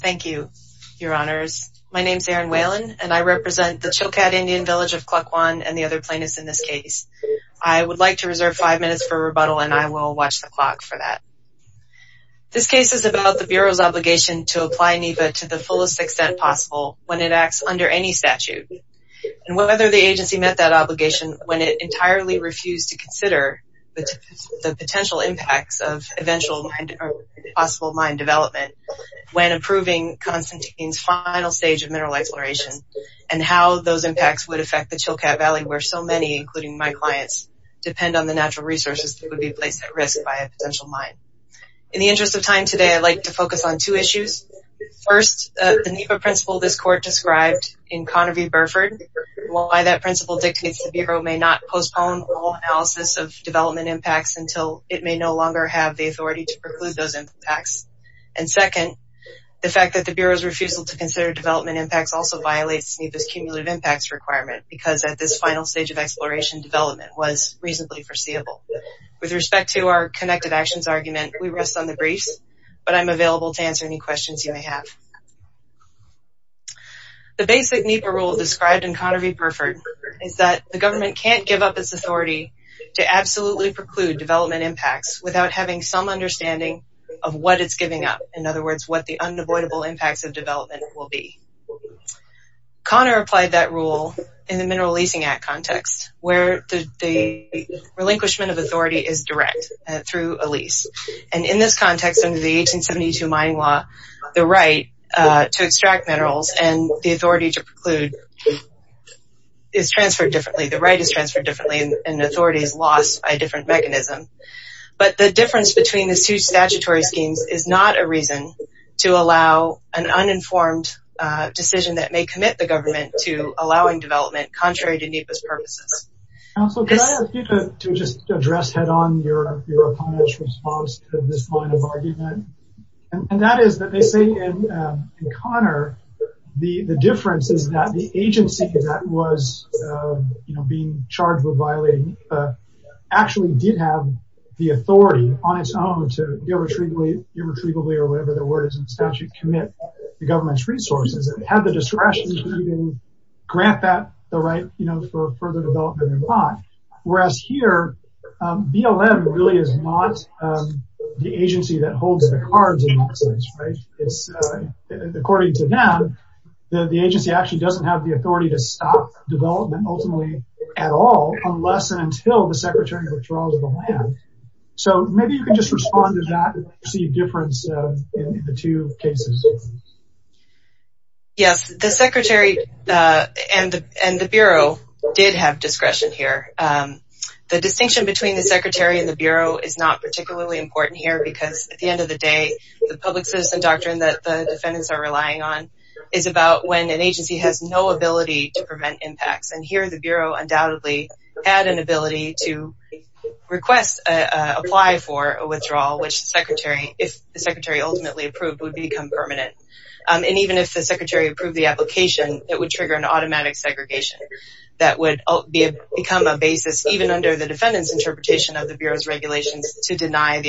Thank you, your honors. My name is Erin Whalen and I represent the Chilkat Indian Village of Kluk v and the other plaintiffs in this case. I would like to reserve five minutes for rebuttal and I will watch the clock for that. This case is about the Bureau's obligation to apply NEPA to the fullest extent possible when it acts under any statute and whether the agency met that obligation when it entirely refused to consider the potential impacts of possible mine development when approving Constantine's final stage of mineral exploration and how those impacts would affect the Chilkat Valley where so many, including my clients, depend on the natural resources that would be placed at risk by a potential mine. In the interest of time today, I'd like to focus on two issues. First, the NEPA principle this court described in Conner v. Burford, while that principle dictates the Bureau may not postpone all analysis of the authority to preclude those impacts. And second, the fact that the Bureau's refusal to consider development impacts also violates NEPA's cumulative impacts requirement because at this final stage of exploration, development was reasonably foreseeable. With respect to our connected actions argument, we rest on the briefs, but I'm available to answer any questions you may have. The basic NEPA rule described in Conner v. Burford is that the government can't give up its authority to absolutely preclude development impacts without having some understanding of what it's giving up. In other words, what the unavoidable impacts of development will be. Conner applied that rule in the Mineral Leasing Act context, where the relinquishment of authority is direct through a lease. And in this context, under the 1872 mining law, the right to extract minerals and the authority to preclude is transferred differently. The right is transferred differently and authority is lost by a different mechanism. But the difference between the two statutory schemes is not a reason to allow an uninformed decision that may commit the government to allowing development, contrary to NEPA's purposes. Counselor, can I ask you to just address head-on your opponent's response to this line of argument? And that is that they say in Conner the difference is that the agency that was being charged with violating actually did have the authority on its own to irretrievably or whatever the word is in statute commit the government's resources and had the discretion to even grant that the right, you know, for further development or not. Whereas here, BLM really is not the agency that holds the cards in this case, right? According to them, the agency actually doesn't have the authority to stop development ultimately at all unless and until the Secretary withdraws the land. So maybe you can just respond to that to see a difference in the two cases. Yes, the Secretary and the Bureau did have discretion here. The distinction between the Secretary and the Bureau is not particularly important here because at the defendants are relying on is about when an agency has no ability to prevent impacts and here the Bureau undoubtedly had an ability to request, apply for a withdrawal which the Secretary, if the Secretary ultimately approved, would become permanent. And even if the Secretary approved the application, it would trigger an automatic segregation that would become a basis even under the defendants interpretation of the Bureau's regulations to deny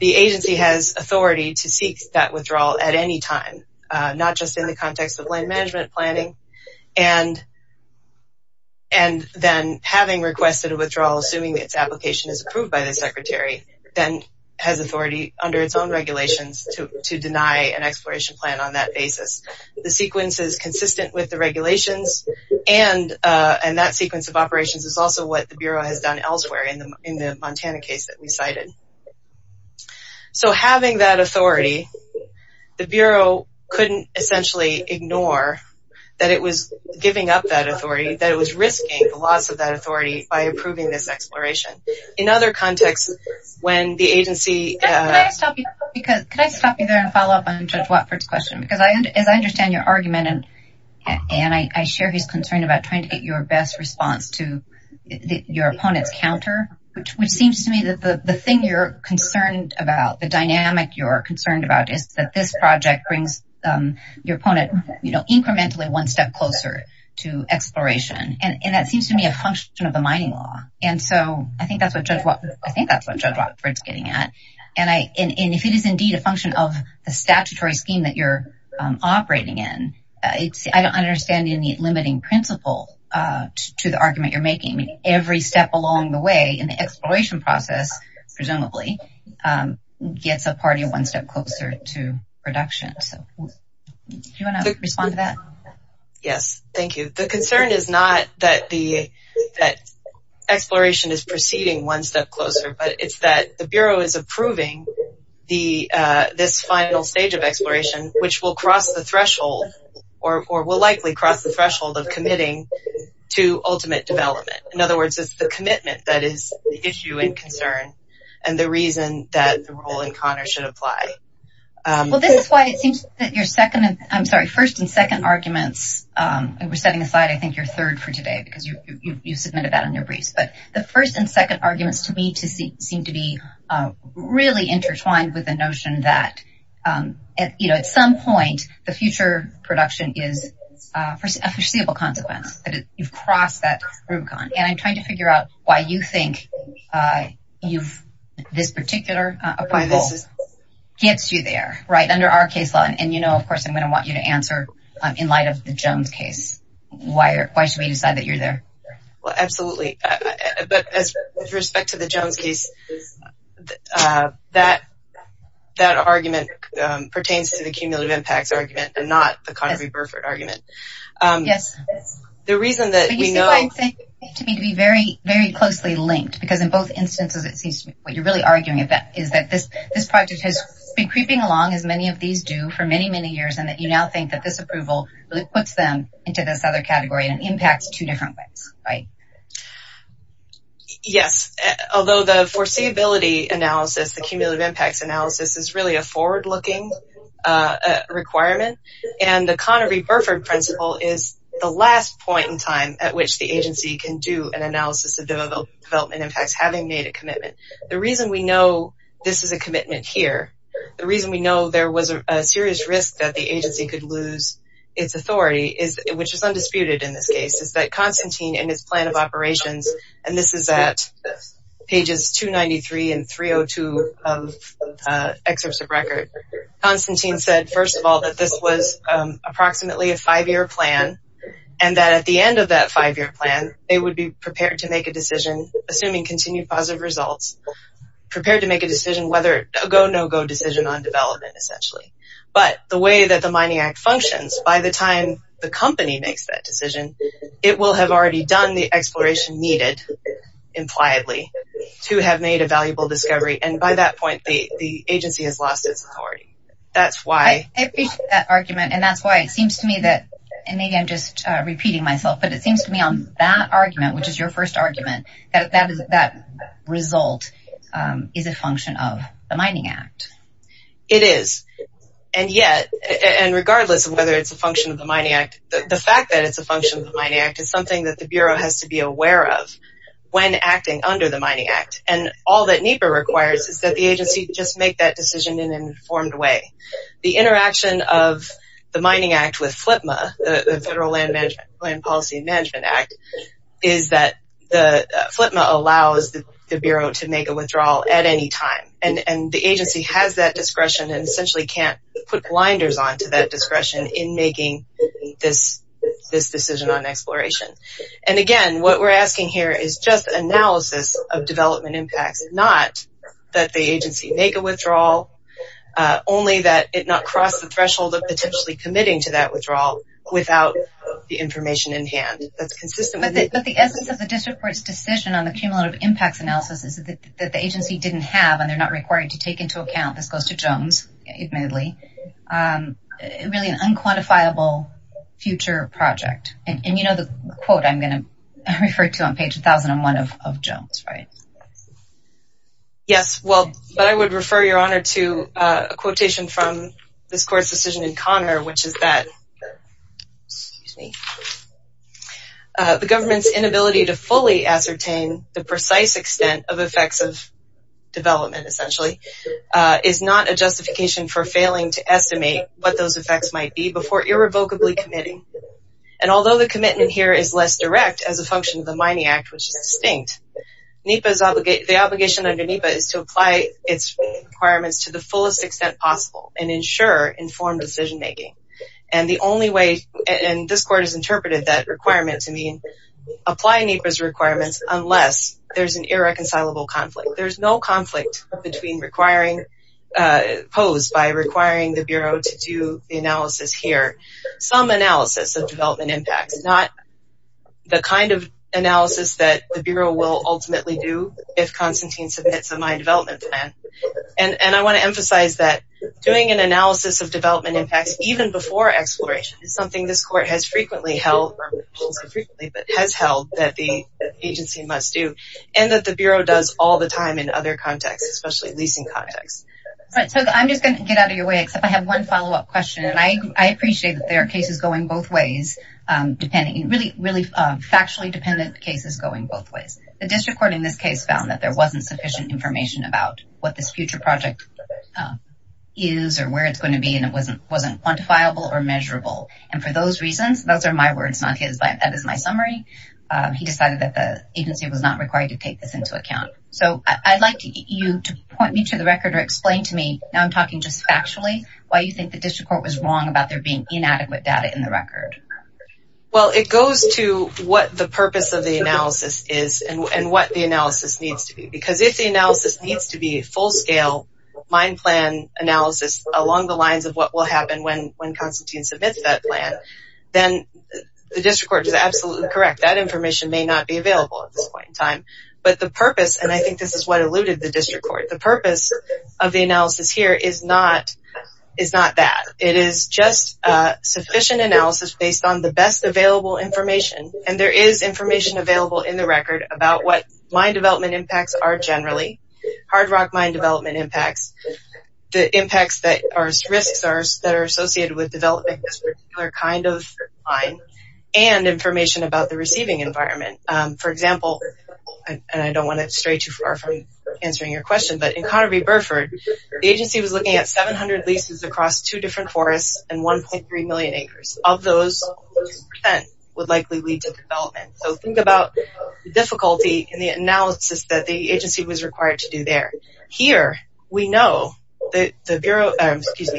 the agency has authority to seek that withdrawal at any time, not just in the context of land management planning and then having requested a withdrawal assuming its application is approved by the Secretary, then has authority under its own regulations to deny an exploration plan on that basis. The sequence is consistent with the regulations and that sequence of operations is also what the Bureau has done elsewhere in the Montana case that we cited. So having that authority, the Bureau couldn't essentially ignore that it was giving up that authority, that it was risking the loss of that authority by approving this exploration. In other contexts, when the agency... Can I stop you there and follow up on Judge Watford's question? Because as I understand your argument and I share his concern about trying to get your best response to your opponent's counter, which seems to me that the thing you're concerned about, the dynamic you're concerned about, is that this project brings your opponent, you know, incrementally one step closer to exploration. And that seems to me a function of the mining law. And so I think that's what Judge Watford's getting at. And if it is indeed a function of the statutory scheme that you're operating in, I don't understand any limiting principle to the argument you're making. Every step along the way in the exploration process, presumably, gets a party one step closer to production. Do you want to respond to that? Yes, thank you. The concern is not that exploration is proceeding one step closer, but it's that the Bureau is approving this final stage of exploration, which will cross the threshold of committing to ultimate development. In other words, it's the commitment that is the issue and concern and the reason that the role in Connor should apply. Well, this is why it seems that your first and second arguments, and we're setting aside I think your third for today because you submitted that in your briefs, but the first and second arguments to me seem to be really intertwined with the notion that at some point the future production is a foreseeable consequence, that you've crossed that rubicon. And I'm trying to figure out why you think this particular approval gets you there, right, under our case law. And you know, of course, I'm going to want you to answer in light of the Jones case. Why should we decide that you're there? Well, absolutely. But with respect to the cumulative impacts argument and not the Connery-Burford argument. Yes. The reason that we know... It seems to me to be very, very closely linked because in both instances it seems to me what you're really arguing about is that this project has been creeping along as many of these do for many, many years and that you now think that this approval really puts them into this other category and impacts two different ways, right? Yes. Although the foreseeability analysis, the requirement and the Connery-Burford principle is the last point in time at which the agency can do an analysis of development impacts having made a commitment. The reason we know this is a commitment here, the reason we know there was a serious risk that the agency could lose its authority, which is undisputed in this case, is that Constantine in his plan of operations, and this is at pages 293 and 302 of excerpts of record, Constantine said first of all that this was approximately a five-year plan and that at the end of that five-year plan they would be prepared to make a decision, assuming continued positive results, prepared to make a decision whether a go-no-go decision on development essentially. But the way that the Mining Act functions, by the time the company makes that decision, it will have already done the exploration needed, impliedly, to have made a valuable discovery and by that point the agency has lost its authority. That's why... I appreciate that argument and that's why it seems to me that, and maybe I'm just repeating myself, but it seems to me on that argument, which is your first argument, that that result is a function of the Mining Act. It is, and yet, and regardless of whether it's a function of the Mining Act, the fact that it's a function of the Mining Act is something that the agency is not aware of when acting under the Mining Act and all that NEPA requires is that the agency just make that decision in an informed way. The interaction of the Mining Act with FLPMA, the Federal Land Policy and Management Act, is that FLPMA allows the Bureau to make a withdrawal at any time and the agency has that discretion and essentially can't put blinders on to that discretion in making this decision on exploration. And again, what we're asking here is just analysis of development impacts, not that the agency make a withdrawal, only that it not cross the threshold of potentially committing to that withdrawal without the information in hand. That's consistent with the... But the essence of the district court's decision on the cumulative impacts analysis is that the agency didn't have, and they're not required to take into account, this goes to Jones admittedly, really an unquantifiable future project. And you know the quote I'm going to refer to on page 1001 of Jones, right? Yes, well, but I would refer your honor to a quotation from this court's decision in Connor, which is that the government's inability to fully ascertain the precise extent of effects of development essentially is not a justification for failing to estimate what those effects might be before irrevocably committing. And although the commitment here is less direct as a function of the mining act, which is distinct, the obligation under NEPA is to apply its requirements to the fullest extent possible and ensure informed decision-making. And the only way, and this court has interpreted that requirement to mean apply NEPA's requirements unless there's an irreconcilable conflict. There's no conflict between requiring, posed by requiring the Bureau to do the analysis here. Some analysis of development impacts, not the kind of analysis that the Bureau will ultimately do if Constantine submits a mine development plan. And I want to emphasize that doing an analysis of development impacts even before exploration is something this court has frequently held, frequently, but has held that the agency must do and that the Bureau does all the time in other contexts, especially leasing context. So I'm just going to get out of your way, except I have one follow-up question. And I appreciate that there are cases going both ways, depending really, really factually dependent cases going both ways. The district court in this case found that there wasn't sufficient information about what this future project is or where it's going to be. And it wasn't quantifiable or measurable. And for those reasons, those are my words, not his, but that is my summary. He decided that the agency was not required to take this into account. So I'd like you to point me to the record or explain to me, now I'm talking just factually, why you think the district court was wrong about there being inadequate data in the record. Well, it goes to what the purpose of the analysis is and what the analysis needs to be. Because if the analysis needs to be full-scale, mind-plan analysis along the lines of what will happen when Constantine submits that plan, then the district court is absolutely correct. That information may not be available at this point in time. But the purpose, and I think this is what eluded the district court, the purpose of the analysis here is not that. It is just sufficient analysis based on the best available information. And there is information available in the record about what mine development impacts are generally. Hard rock mine development impacts, the impacts or risks that are associated with developing this particular kind of mine, and information about the receiving environment. For example, and I don't want to stray too far from answering your question, but in Connerby Burford, the agency was looking at 700 leases across two different forests and 1.3 million acres. Of those, 10% would likely lead to development. So think about the difficulty in the analysis that the agency was required to do there. Here, we know that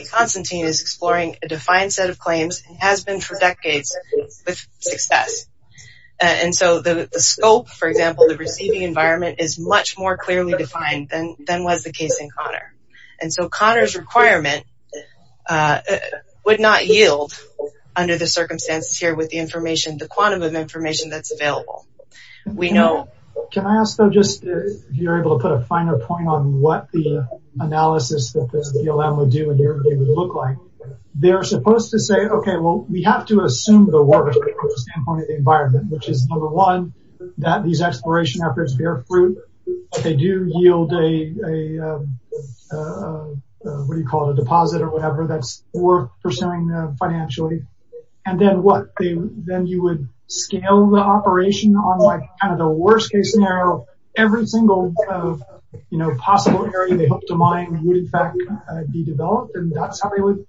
Constantine is exploring a defined set of claims and has been for decades with success. And so the scope, for example, the receiving environment is much more clearly defined than was the case in Conner. And so Conner's requirement would not yield under the circumstances here with the information, the quantum of information that's available. Can I ask though, just if you're able to put a finer point on what the analysis that the BLM would do and what it would look like. They're supposed to say, okay, well, we have to assume the worst standpoint of the environment, which is number one, that these exploration efforts bear fruit. They do yield a, what do you call it, a deposit or whatever that's worth pursuing financially. And then what? Then you would scale the operation on kind of the worst case scenario. Every single one of, you know, possible areas they hope to mine would, in fact, be developed. And that's how they would,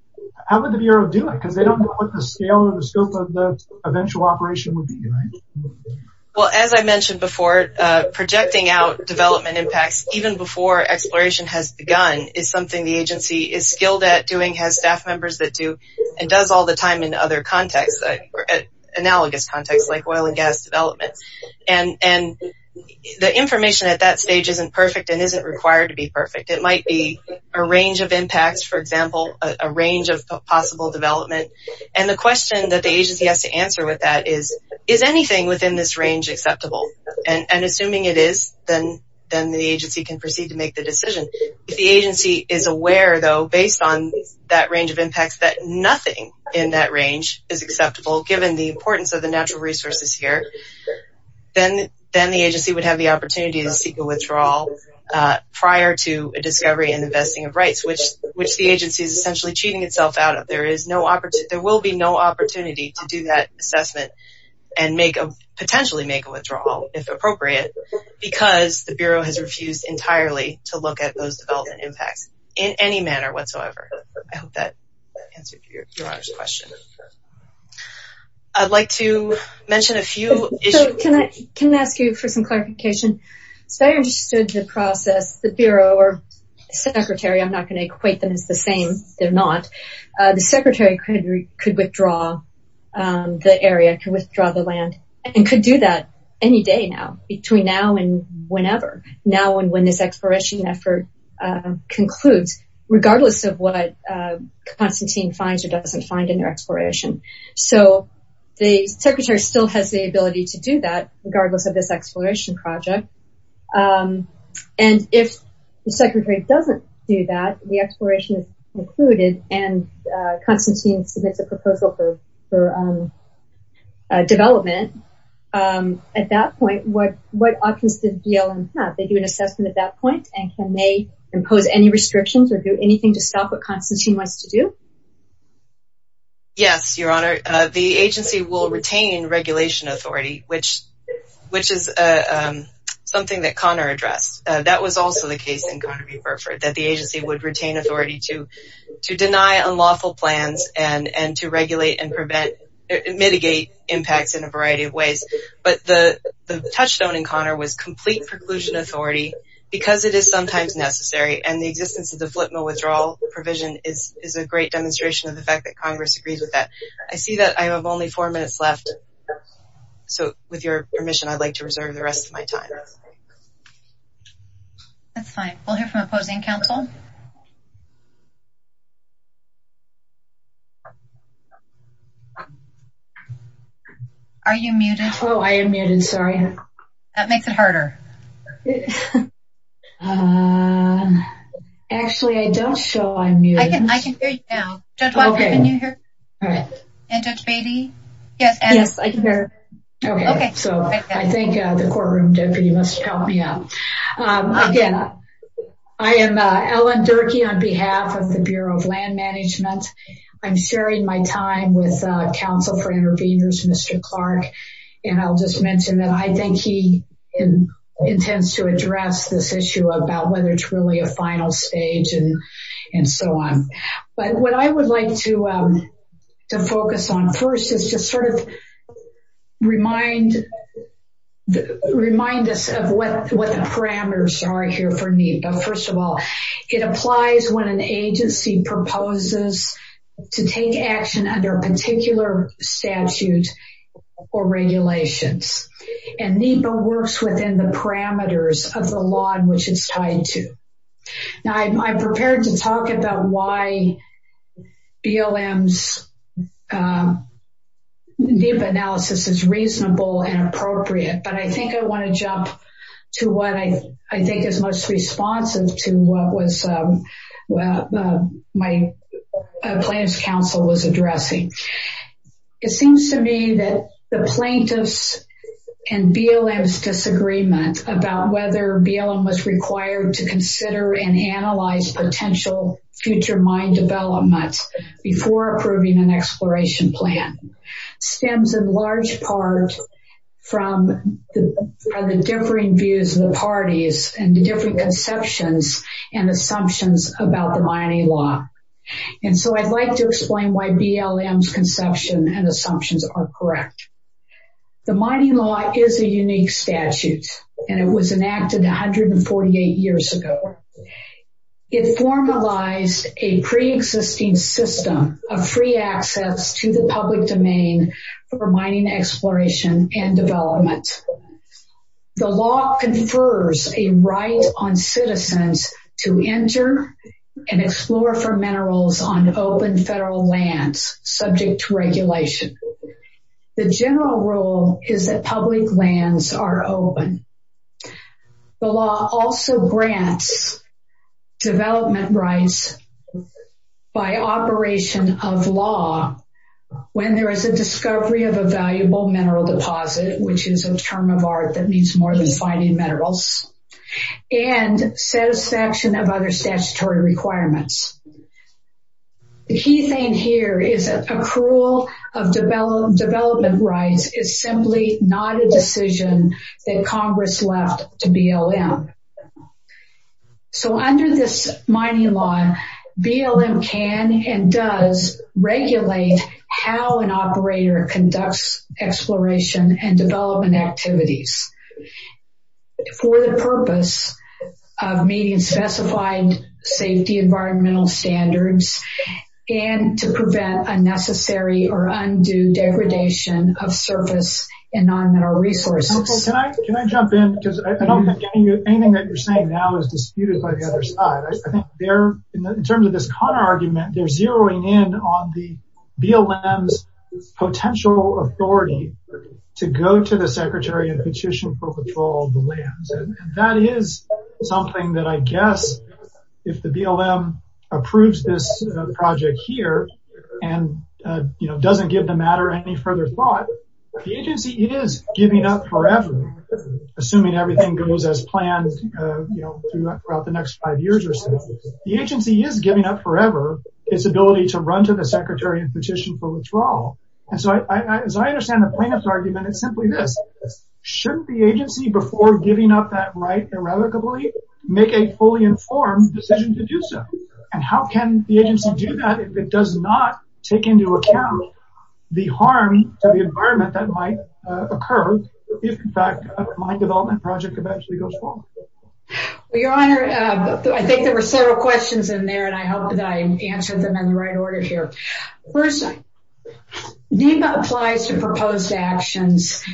how would the Bureau do it? Because they don't know what the scale and the scope of the eventual operation would be, right? Well, as I mentioned before, projecting out development impacts even before exploration has begun is something the agency is skilled at doing, has staff members that do, and does all the time in other contexts, analogous contexts like oil and gas development. And the information at that stage isn't perfect and isn't required to be perfect. It might be a range of impacts, for example, a range of possible development. And the question that the agency has to answer with that is, is anything within this range acceptable? And assuming it is, then the agency can proceed to make the decision. If the agency is aware, though, based on that range of impacts that nothing in that range is acceptable, given the importance of the natural resources here, then the agency would have the opportunity to seek a withdrawal prior to a discovery and investing of rights, which the agency is essentially cheating itself out of. There will be no opportunity to do that assessment and potentially make a withdrawal, if appropriate, because the Bureau has refused entirely to look at those development impacts in any manner whatsoever. I hope that answered your question. I'd like to mention a few issues. Can I ask you for some clarification? If I understood the process, the Bureau or the Secretary, I'm not going to equate them as the same. They're not. The Secretary could withdraw the area, could withdraw the land, and could do that any day now, between now and whenever, now and when this exploration effort concludes, regardless of what Constantine finds or doesn't find in their exploration. So the Secretary still has the ability to do that, regardless of this exploration project. And if the Secretary doesn't do that, the exploration is concluded, and Constantine submits a proposal for development, at that point, what options does BLM have? They do an assessment at that point, and can they impose any restrictions or do anything to stop what Constantine wants to do? Yes, Your Honor. The agency will retain regulation authority, which is something that Conor addressed. That was also the case in Conner v. Burford, that the agency would retain authority to deny unlawful plans and to regulate and prevent, mitigate impacts in a variety of ways. But the touchstone in Conor was complete preclusion authority because it is sometimes necessary, and the existence of the flip mill withdrawal provision is a great demonstration of the fact that Congress agrees with that. I see that I have only four minutes left, so with your permission, I'd like to reserve the rest of my time. That's fine. We'll hear from opposing counsel. Are you muted? Oh, I am muted, sorry. That makes it harder. Actually, I don't show I'm muted. I can hear you now. Judge Walker, can you hear? And Judge Beatty? Yes, I can hear. Okay, so I think the courtroom deputy must help me out. Again, I am Ellen Durkee on behalf of the Bureau of Land Management. I'm sharing my time with Counsel for Interveners, Mr. Clark, and I'll just mention that I think he intends to address this issue about whether it's really a final stage and so on. But what I would like to focus on first is to sort of remind us of what the parameters are here for NEPA. First of all, it applies when an agency proposes to take action under a particular statute or regulations, and NEPA works within the parameters of the law in which it's tied to. Now, I'm prepared to talk about why BLM's NEPA analysis is reasonable and appropriate, but I think I want to jump to what I think is most responsive to what my plaintiff's counsel was addressing. It seems to me that the plaintiff's and BLM's disagreement about whether BLM was required to consider and analyze potential future mine development before approving an exploration plan stems in large part from the differing views of the parties and the different conceptions and assumptions about the mining law. And so I'd like to explain why BLM's conception and assumptions are correct. The mining law is a unique statute, and it was enacted 148 years ago. It formalized a pre-existing system of free access to the public domain for mining exploration and development. The law confers a right on citizens to enter and explore for minerals on open federal lands subject to regulation. The general rule is that public lands are open. The law also grants development rights by operation of law when there is a discovery of a valuable mineral deposit, which is a term of art that means more than finding minerals, and satisfaction of other statutory requirements. The key thing here is that accrual of development rights is simply not a decision that Congress left to BLM. So under this mining law, BLM can and does regulate how an operator conducts exploration and development activities for the purpose of meeting specified safety environmental standards and to prevent unnecessary or undue degradation of service and non-mineral resources. Can I jump in? Because I don't think anything that you're saying now is disputed by the other side. I think in terms of this Connor argument, they're zeroing in on the BLM's potential authority to go to the Secretary and petition for control of the lands. And that is something that I guess if the BLM approves this project here and doesn't give the matter any further thought, the agency is giving up forever, assuming everything goes as planned throughout the next five years or so. The agency is giving up forever its ability to run to the Secretary and petition for withdrawal. And so as I understand the plaintiff's argument, it's simply this. Shouldn't the agency before giving up that right irrevocably make a fully informed decision to do so? And how can the agency do that if it does not take into account the harm to the environment that might occur if in fact a mine development project eventually goes wrong? Your Honor, I think there were several questions in there and I hope that I answered them in the right order here. First, NEPA applies to proposed actions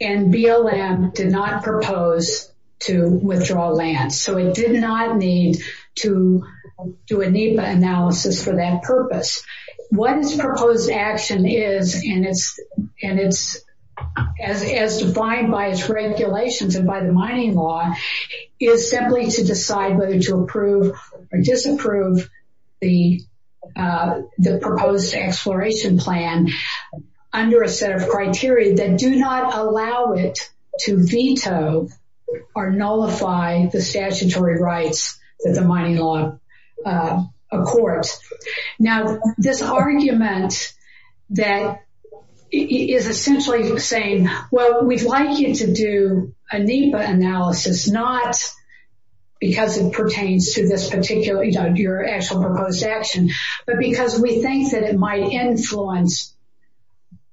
and BLM did not propose to withdraw lands. So it did not need to do a NEPA analysis for that purpose. What its proposed action is, and it's as defined by its regulations and by the mining law, is simply to decide whether to approve or disapprove the proposed exploration plan under a set of criteria that do not allow it to veto or nullify the statutory rights that the mining law accords. Now, this argument that is essentially saying, well, we'd like you to do a NEPA analysis, not because it pertains to your actual proposed action, but because we think that it might influence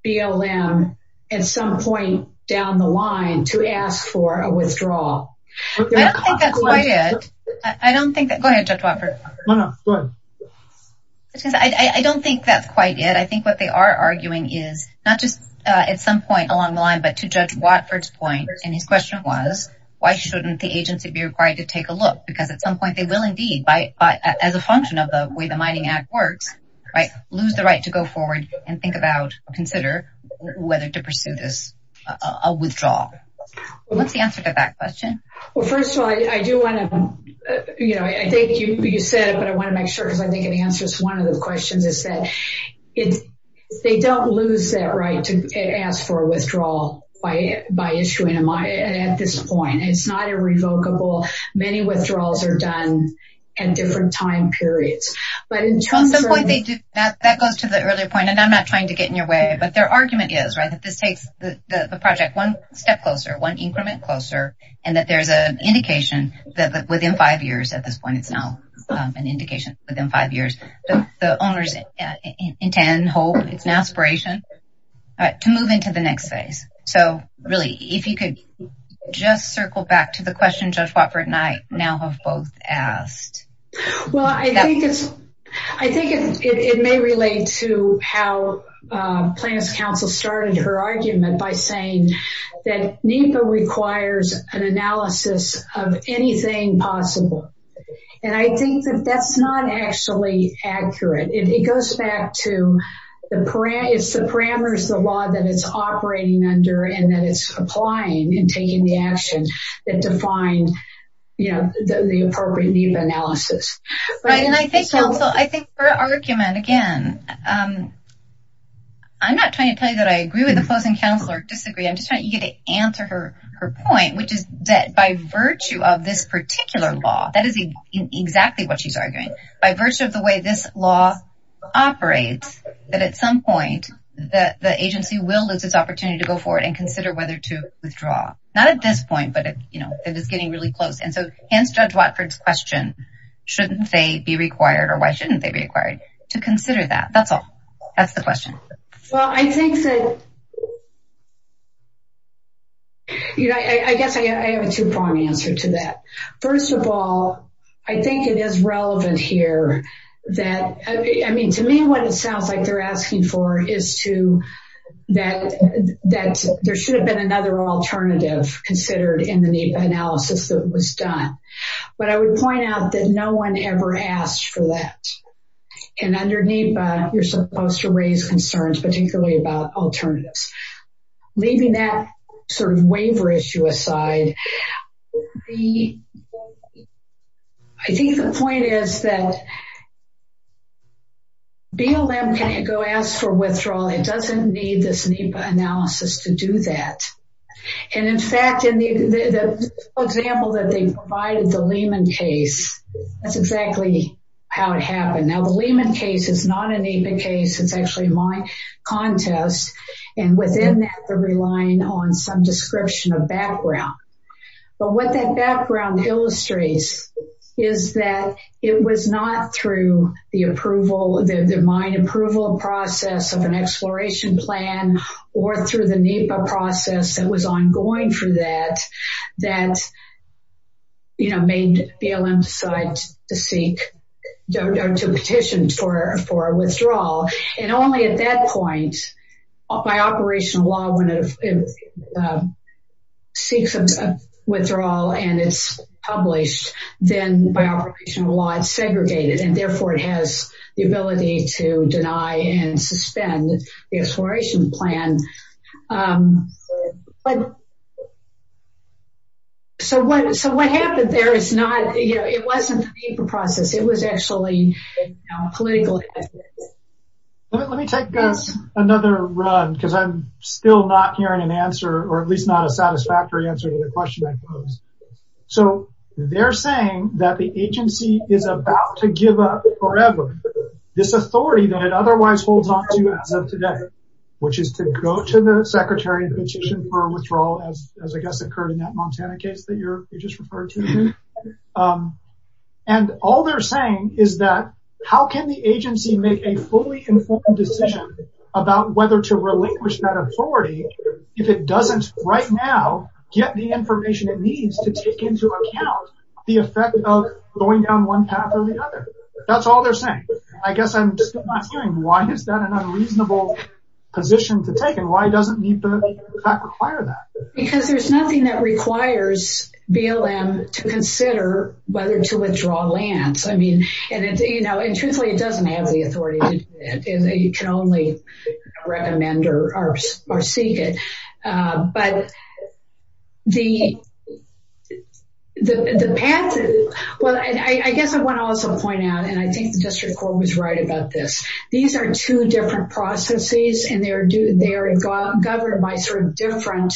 BLM at some point down the line to ask for a withdrawal. I don't think that's quite it. I think what they are arguing is, not just at some point along the line, but to Judge Watford's point, and his question was, why shouldn't the agency be required to take a look? Because at some point they will indeed, as a function of the way the mining act works, lose the right to go forward and think about, consider whether to pursue this withdrawal. What's the answer to that question? Well, first of all, I do want to, you know, I think you said it, but I want to make sure, because I think it answers one of the questions, is that they don't lose that right to ask for a withdrawal by issuing a mine at this point. It's not irrevocable. Many withdrawals are done at different time periods. That goes to the earlier point, and I'm not trying to get in your way, but their argument is, right, that this takes the project one step closer, one increment closer, and that there's an indication that within five years, at this point, it's now an indication, within five years, the owners intend, hope, it's an aspiration, to move into the next phase. So, really, if you could just circle back to the question Judge Watford and I now have both asked. Well, I think it may relate to how plaintiff's counsel started her argument by saying that NEPA requires an analysis of anything possible, and I think that that's not actually accurate. It goes back to the parameters of the law that it's operating under and that it's applying and taking the action that defined, you know, the appropriate NEPA analysis. I think her argument, again, I'm not trying to tell you that I agree with the closing counsel or disagree. I'm just trying to get to answer her point, which is that by virtue of this particular law, that is exactly what she's arguing. By virtue of the way this law operates, that at some point, the agency will lose its opportunity to go forward and consider whether to withdraw. Not at this point, but, you know, it is getting really close. And so, hence Judge Watford's question, shouldn't they be required or why shouldn't they be required to consider that? That's all. That's the question. Well, I think that, you know, I guess I have a two-pronged answer to that. First of all, I think it is relevant here that, I mean, to me what it sounds like they're asking for is to, that there should have been another alternative considered in the NEPA analysis that was done. But I would point out that no one ever asked for that. And under NEPA, you're supposed to raise concerns, particularly about alternatives. Leaving that sort of waiver issue aside, I think the point is that BLM can go ask for withdrawal. It doesn't need this NEPA analysis to do that. And in fact, in the example that they provided, the Lehman case, that's exactly how it happened. Now, the Lehman case is not a NEPA case. It's actually a mine contest. And within that, they're relying on some description of background. But what that background illustrates is that it was not through the approval, the mine approval process of an exploration plan, or through the NEPA process that was ongoing for that, that, you know, made BLM decide to seek, to petition for withdrawal. And only at that point, by operational law, when it seeks withdrawal, and it's published, then by operational law, it's segregated. And therefore, it has the ability to deny and suspend the exploration plan. So what happened there is not, you know, it wasn't the NEPA process. It was actually political. Let me take another run, because I'm still not hearing an answer, or at least not a satisfactory answer to the question I posed. So they're saying that the agency is about to give up forever this authority that it otherwise holds on to as of today, which is to go to the secretary and petition for withdrawal, as I guess occurred in that Montana case that you just referred to. And all they're saying is that, how can the agency make a fully informed decision about whether to relinquish that authority if it doesn't, right now, get the information it needs to take into account the effect of going down one path or the other? That's all they're saying. I guess I'm still not hearing, why is that an unreasonable position to take, and why doesn't NEPA require that? Because there's nothing that requires BLM to consider whether to withdraw lands. I mean, you know, and truthfully, it doesn't have the authority to do that. You can only recommend or seek it. But the path, well, I guess I want to also point out, and I think the district court was right about this, these are two different processes, and they're governed by sort of different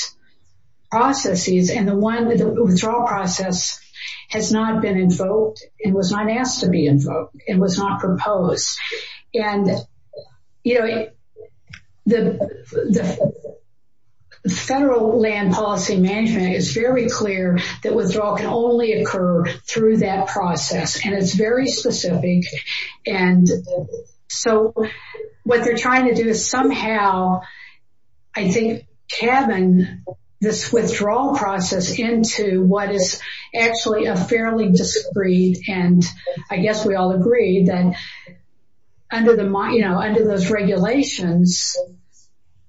processes, and the one withdrawal process has not been invoked and was not asked to be invoked and was not proposed. And, you know, the federal land policy management is very clear that withdrawal can only occur through that process, and it's very specific. And so what they're trying to do is somehow, I think, cabin this withdrawal process into what is actually a fairly discreet, and I guess we all agree that under those regulations,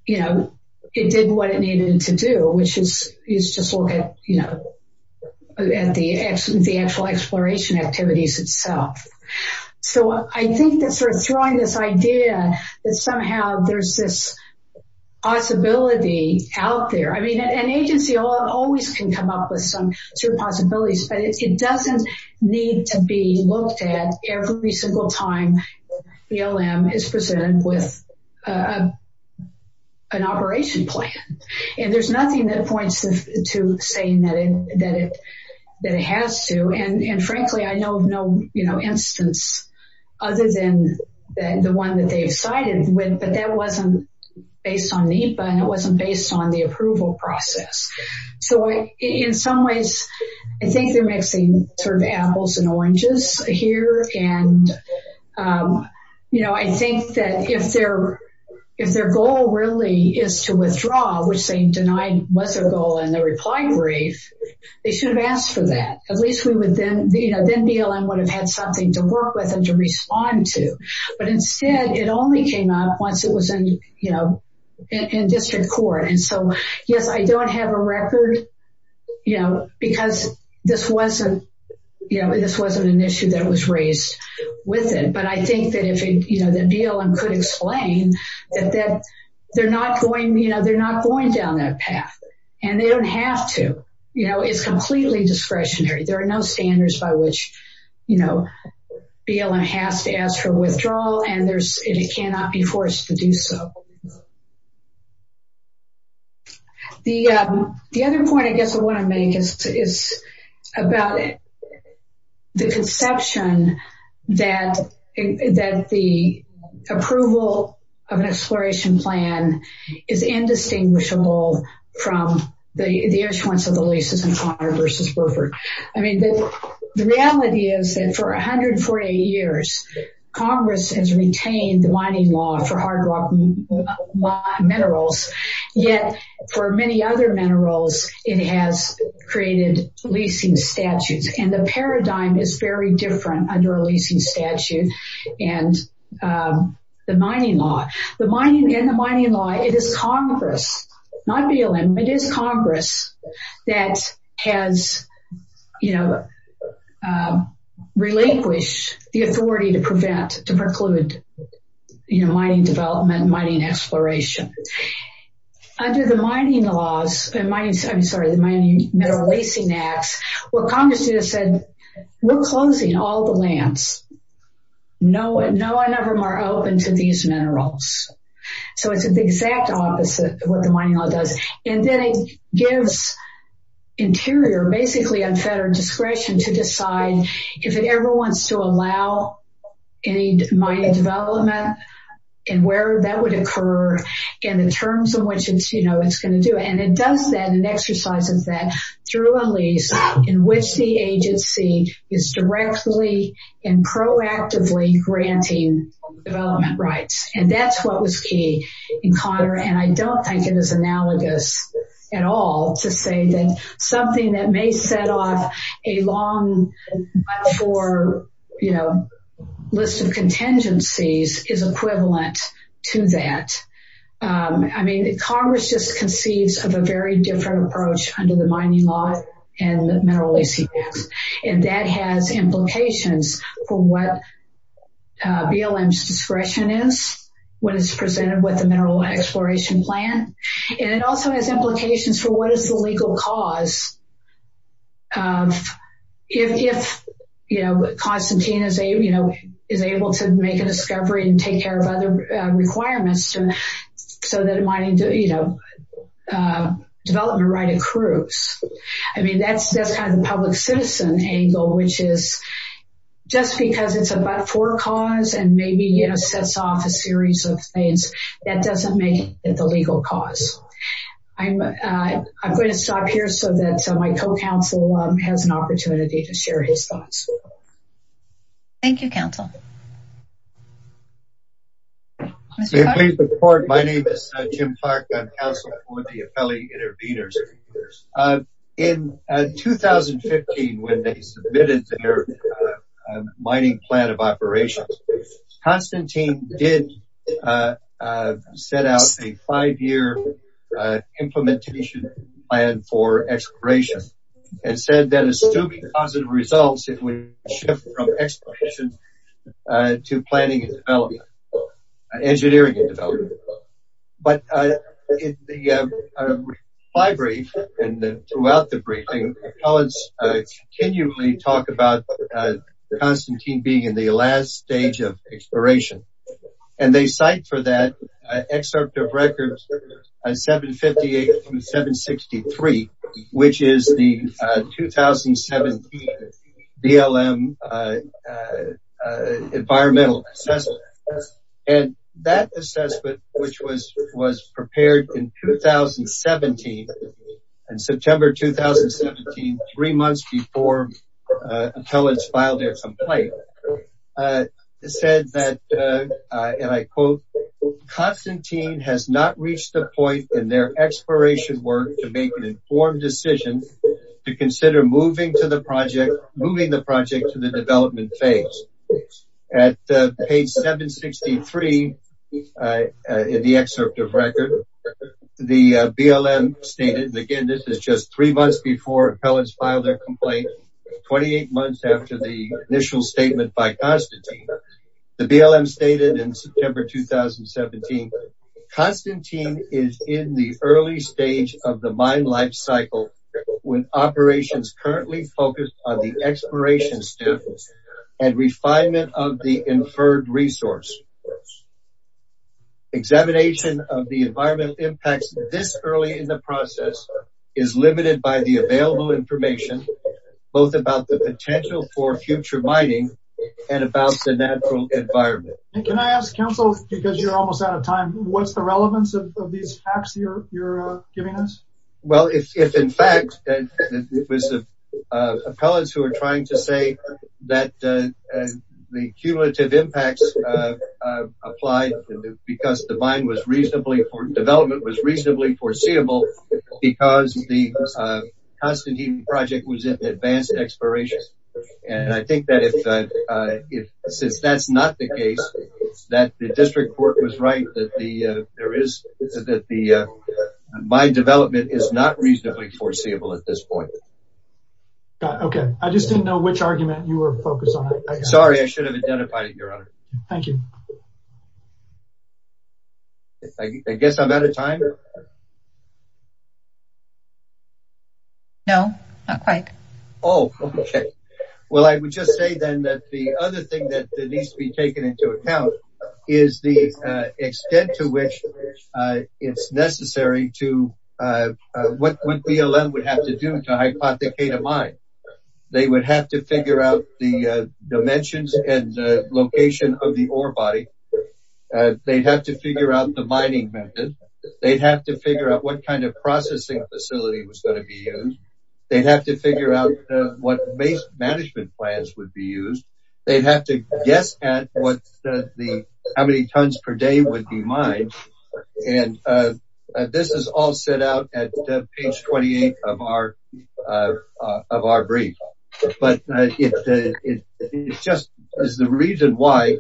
you know, it did what it needed to do, which is just look at the actual exploration activities itself. So I think that sort of throwing this idea that somehow there's this possibility out there, I mean, an agency always can come up with some sort of possibilities, but it doesn't need to be looked at every single time BLM is presented with an operation plan. And there's nothing that points to saying that it has to, and frankly, I know of no instance other than the one that they've sided with, but that wasn't based on NEPA and it wasn't based on the approval process. So in some ways, I think they're mixing sort of apples and oranges here. And, you know, I think that if their goal really is to withdraw, which they denied was their goal in the reply brief, they should have asked for that. At least we would then, you know, then BLM would have had something to work with and to respond to. But instead, it only came up once it was in, you know, in district court. And so, yes, I don't have a record, you know, because this wasn't, you know, this wasn't an issue that was raised with it. But I think that if, you know, that BLM could explain that they're not going, you know, they're not going down that path. And they don't have to, you know, it's completely discretionary. There are no standards by which, you know, BLM has to ask for withdrawal and it cannot be forced to do so. The other point I guess I want to make is about the conception that the approval of an exploration plan is indistinguishable from the issuance of the leases in Conner v. Burford. I mean, the reality is that for 148 years, Congress has retained the mining law for hard rock minerals. Yet, for many other minerals, it has created leasing statutes and the paradigm is very different under a leasing statute and the mining law. The mining and the mining law, it is Congress, not BLM, it is Congress that has, you know, relinquished the authority to prevent, to preclude, you know, mining development, mining exploration. Under the mining laws, I'm sorry, the mining mineral leasing acts, what Congress has said, we're closing all the lands. No one of them are open to these minerals. So it's the exact opposite of what the mining law does. And then it gives Interior basically unfettered discretion to decide if it ever wants to allow any mining development and where that would occur and in terms of which it's, you know, it's going to do. And it does that and exercises that through a lease in which the agency is directly and proactively granting development rights. And that's what was key in Cotter. And I don't think it is analogous at all to say that something that may set off a long list of contingencies is equivalent to that. I mean, Congress just conceives of a very different approach under the mining law and mineral leasing acts. And that has implications for what BLM's discretion is when it's presented with the mineral exploration plan. And it also has implications for what is the legal cause if, you know, Constantine is able to make a discovery and take care of other requirements so that mining development right accrues. I mean, that's kind of the public citizen angle, which is just because it's a but-for cause and maybe, you know, sets off a series of things that doesn't make it the legal cause. I'm going to stop here so that my co-counsel has an opportunity to share his thoughts. Thank you, counsel. Please report. My name is Jim Clark. I'm counsel for the appellee intervenors. In 2015, when they submitted their mining plan of operations, Constantine did set out a five-year implementation plan for exploration and said that assuming positive results, it would shift from exploration to planning and development, engineering and development. But in the fly brief and throughout the briefing, the appellants continually talk about Constantine being in the last stage of exploration. And they cite for that excerpt of records 758 through 763, which is the 2017 BLM environmental assessment. And that assessment, which was prepared in 2017, in September 2017, three months before appellants filed their complaint, said that, and I quote, Constantine has not reached the point in their exploration work to make an informed decision to consider moving to the project, moving the project to the development phase. At page 763 in the excerpt of record, the BLM stated, and again, this is just three months before appellants filed their complaint, 28 months after the initial statement by Constantine. The BLM stated in September 2017, Constantine is in the early stage of the mine life cycle with operations currently focused on the exploration and refinement of the inferred resource. Examination of the environmental impacts this early in the process is limited by the available information, both about the potential for future mining and about the natural environment. Can I ask counsel, because you're almost out of time, what's the relevance of these facts you're giving us? Well, if in fact it was appellants who are trying to say that the cumulative impacts applied because the mine was reasonably, development was reasonably foreseeable because the Constantine project was in advanced exploration. And I think that if, since that's not the case, that the district court was right, that the, there is, that the mine development is not reasonably foreseeable at this point. Okay. I just didn't know which argument you were focused on. Sorry, I should have identified it, your honor. Thank you. I guess I'm out of time. No, not quite. Oh, okay. Well, I would just say then that the other thing that needs to be taken into account is the extent to which it's necessary to what BLM would have to do to hypothecate a mine. They would have to figure out the dimensions and location of the ore body. They'd have to figure out the mining method. They'd have to figure out what kind of processing facility was going to be used. They'd have to figure out what base management plans would be used. They'd have to guess at what the, how many tons per day would be mined. And this is all set out at page 28 of our, of our brief. But it just is the reason why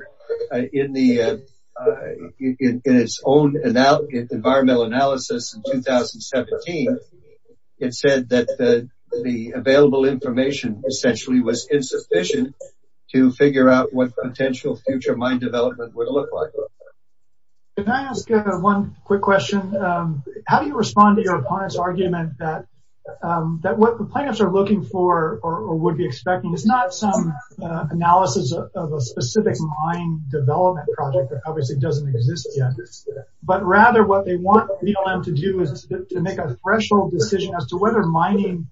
in the, in its own environmental analysis in 2017, it said that the available information essentially was insufficient to figure out what potential future mine development would look like. Can I ask one quick question? How do you respond to your opponent's argument that what the plaintiffs are looking for or would be expecting is not some analysis of a specific mine development project that obviously doesn't exist yet. But rather what they want BLM to do is to make a threshold decision as to whether mining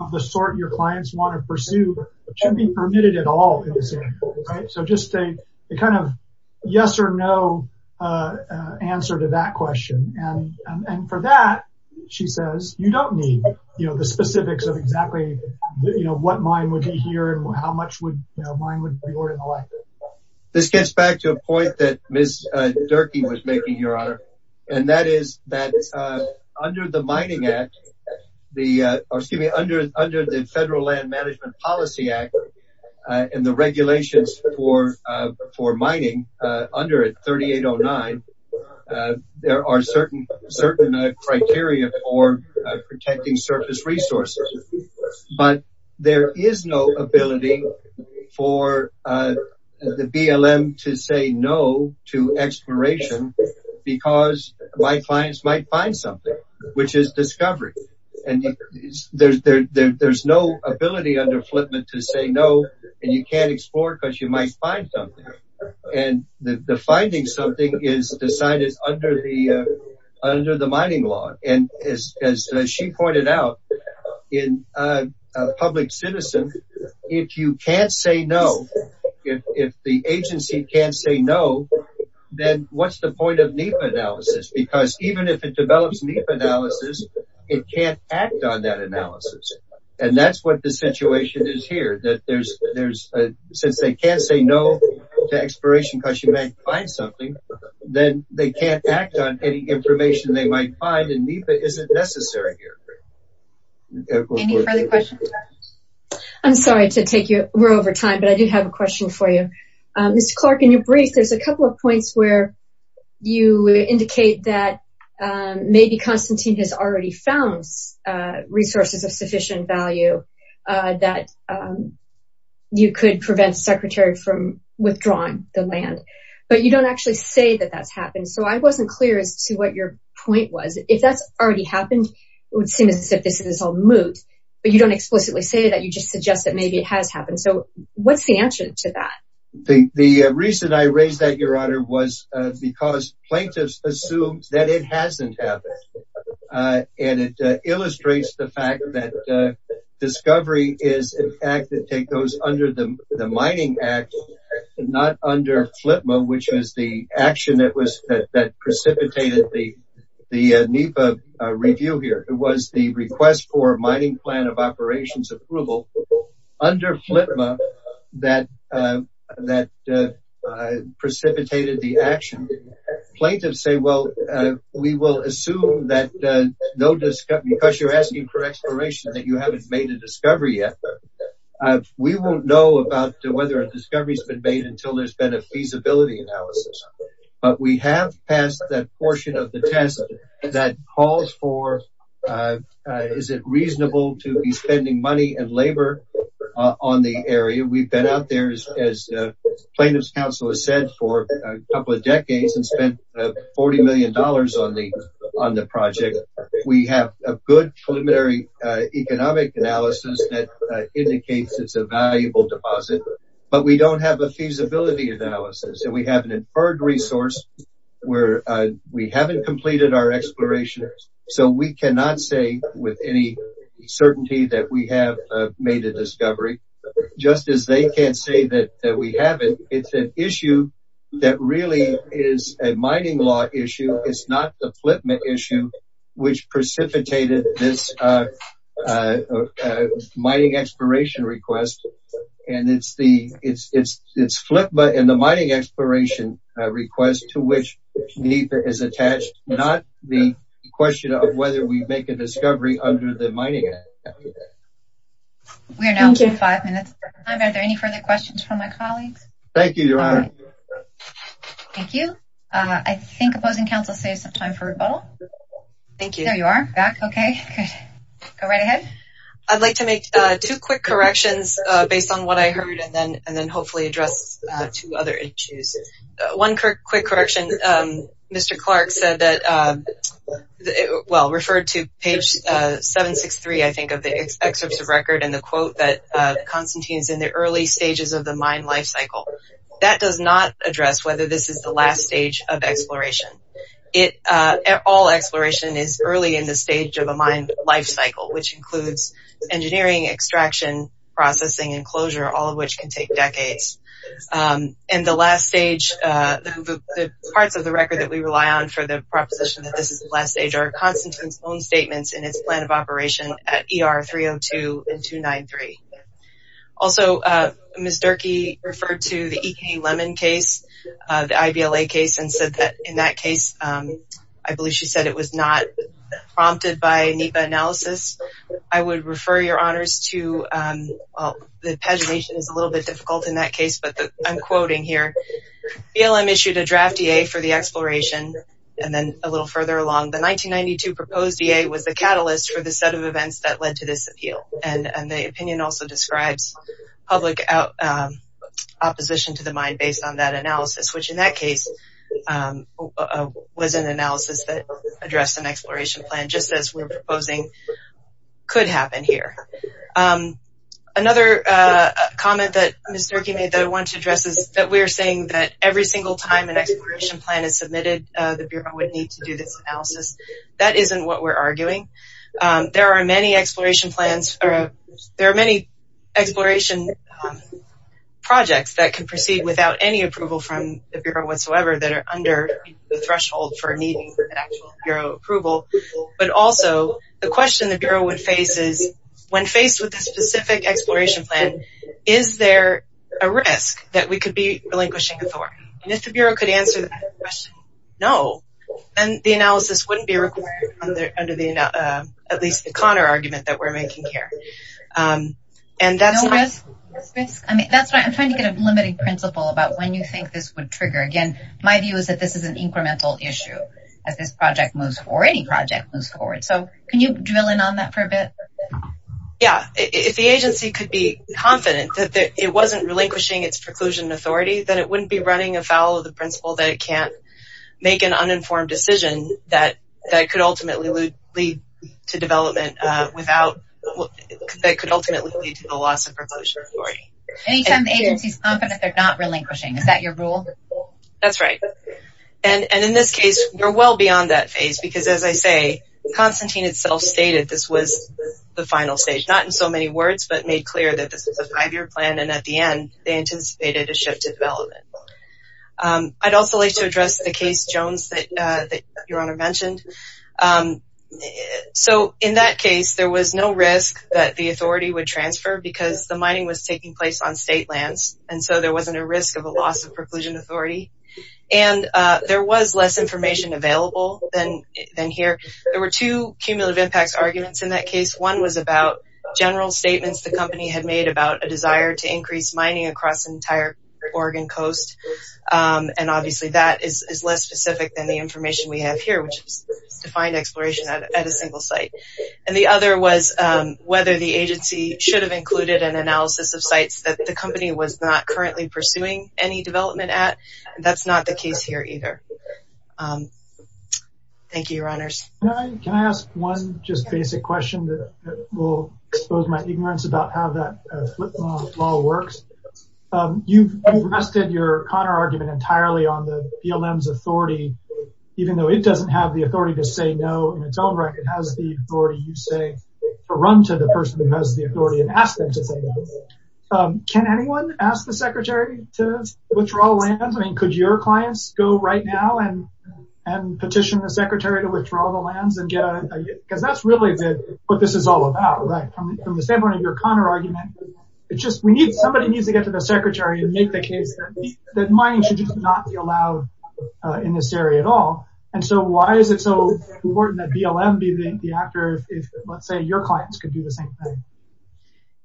of the sort your clients want to pursue should be permitted at all. So just a kind of yes or no answer to that question. And for that, she says, you don't need, you know, the specifics of exactly what mine would be here and how much would mine would be ored in the like. This gets back to a point that Ms. Durkee was making, Your Honor. And that is that under the Mining Act, the, excuse me, under the Federal Land Management Policy Act and the regulations for mining under it, 3809, there are certain criteria for protecting surface resources. But there is no ability for the BLM to say no to exploration because my clients might find something, which is discovery. And there's no ability under Flipman to say no. And you can't explore because you might find something. And the finding something is decided under the mining law. And as she pointed out, in a public citizen, if you can't say no, if the agency can't say no, then what's the point of NEPA analysis? Because even if it develops NEPA analysis, it can't act on that analysis. And that's what the situation is here, that there's, since they can't say no to exploration because you might find something, then they can't act on any information they might find and NEPA isn't necessary here. Any further questions? I'm sorry to take you, we're over time, but I do have a question for you. Mr. Clark, in your brief, there's a couple of points where you indicate that maybe Constantine has already found resources of sufficient value that you could prevent Secretary from withdrawing the land. But you don't actually say that that's happened. So I wasn't clear as to what your point was. If that's already happened, it would seem as if this is all moot. But you don't explicitly say that. You just suggest that maybe it has happened. So what's the answer to that? The reason I raised that, Your Honor, was because plaintiffs assumed that it hasn't happened. And it illustrates the fact that discovery is an act that goes under the Mining Act, not under FLTMA, which was the action that precipitated the NEPA review here. It was the request for a mining plan of operations approval under FLTMA that precipitated the action. Plaintiffs say, well, we will assume that because you're asking for exploration that you haven't made a discovery yet. We won't know about whether a discovery has been made until there's been a feasibility analysis. But we have passed that portion of the test that calls for, is it reasonable to be spending money and labor on the area? We've been out there, as plaintiff's counsel has said, for a couple of decades and spent $40 million on the project. We have a good preliminary economic analysis that indicates it's a valuable deposit. But we don't have a feasibility analysis. And we have an inferred resource where we haven't completed our exploration. So we cannot say with any certainty that we have made a discovery, just as they can't say that we haven't. It's an issue that really is a mining law issue. It's not the FLTMA issue which precipitated this mining exploration request. It's FLTMA and the mining exploration request to which NEPA is attached, not the question of whether we make a discovery under the Mining Act. We are now five minutes behind. Are there any further questions from my colleagues? Thank you, Your Honor. Thank you. I think opposing counsel saves some time for rebuttal. Thank you. There you are, back. Okay, good. Go right ahead. I'd like to make two quick corrections based on what I heard and then hopefully address two other issues. One quick correction, Mr. Clark said that, well, referred to page 763, I think, of the excerpts of record and the quote that Constantine is in the early stages of the mine life cycle. That does not address whether this is the last stage of exploration. All exploration is early in the stage of a mine life cycle, which includes engineering, extraction, processing, and closure, all of which can take decades. And the last stage, the parts of the record that we rely on for the proposition that this is the last stage are Constantine's own statements in his plan of operation at ER 302 and 293. Also, Ms. Durkee referred to the E.K. Lemon case, the I.B.L.A. case, and said that in that case, I believe she said it was not prompted by NEPA analysis. I would refer your honors to, well, the pagination is a little bit difficult in that case, but I'm quoting here. BLM issued a draft DA for the exploration, and then a little further along, the 1992 proposed DA was the catalyst for the set of events that led to this appeal. And the opinion also describes public opposition to the mine based on that analysis, which in that case was an analysis that addressed an exploration plan, just as we're proposing could happen here. Another comment that Ms. Durkee made that I wanted to address is that we are saying that every single time an exploration plan is submitted, the Bureau would need to do this analysis. That isn't what we're arguing. There are many exploration plans or there are many exploration projects that can proceed without any approval from the Bureau whatsoever that are under the threshold for needing actual Bureau approval. But also, the question the Bureau would face is, when faced with a specific exploration plan, is there a risk that we could be relinquishing authority? And if the Bureau could answer that question no, then the analysis wouldn't be required under at least the Connor argument that we're making here. And that's... No risk? I'm trying to get a limited principle about when you think this would trigger. Again, my view is that this is an incremental issue as this project moves forward, any project moves forward. So, can you drill in on that for a bit? Yeah, if the agency could be confident that it wasn't relinquishing its preclusion authority, then it wouldn't be running afoul of the principle that it can't make an uninformed decision that could ultimately lead to development without... that could ultimately lead to the loss of preclusion authority. Anytime the agency's confident they're not relinquishing. Is that your rule? That's right. And in this case, we're well beyond that phase because, as I say, Constantine itself stated this was the final stage. Not in so many words, but made clear that this was a five-year plan. And at the end, they anticipated a shift to development. I'd also like to address the case Jones that Your Honor mentioned. So, in that case, there was no risk that the authority would transfer because the mining was taking place on state lands. And so there wasn't a risk of a loss of preclusion authority. And there was less information available than here. There were two cumulative impacts arguments in that case. One was about general statements the company had made about a desire to increase mining across the entire Oregon coast. And obviously that is less specific than the information we have here, which is defined exploration at a single site. And the other was whether the agency should have included an analysis of sites that the company was not currently pursuing any development at. Thank you, Your Honors. Can I ask one just basic question that will expose my ignorance about how that flip law works? You've rested your Connor argument entirely on the BLM's authority, even though it doesn't have the authority to say no in its own right. It has the authority, you say, to run to the person who has the authority and ask them to say no. Can anyone ask the Secretary to withdraw land? I mean, could your clients go right now and petition the Secretary to withdraw the lands? Because that's really what this is all about, right? From the standpoint of your Connor argument, it's just somebody needs to get to the Secretary and make the case that mining should just not be allowed in this area at all. And so why is it so important that BLM be the actor if, let's say,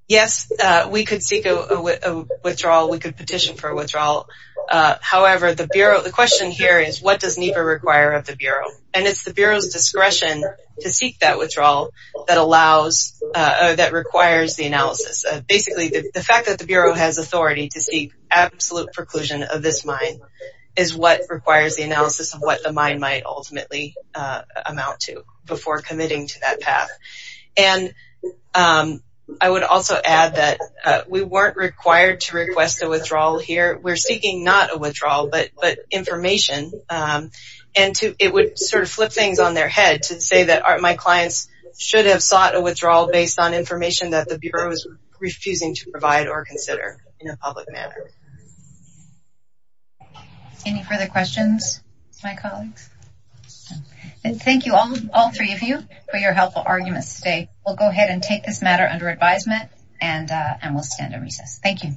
Yes, we could seek a withdrawal. We could petition for a withdrawal. However, the question here is what does NEPA require of the Bureau? And it's the Bureau's discretion to seek that withdrawal that requires the analysis. Basically, the fact that the Bureau has authority to seek absolute preclusion of this mine is what requires the analysis of what the mine might ultimately amount to before committing to that path. And I would also add that we weren't required to request a withdrawal here. We're seeking not a withdrawal but information. And it would sort of flip things on their head to say that my clients should have sought a withdrawal based on information that the Bureau is refusing to provide or consider in a public manner. Any further questions, my colleagues? Thank you, all three of you, for your helpful arguments today. We'll go ahead and take this matter under advisement, and we'll stand and recess. Thank you.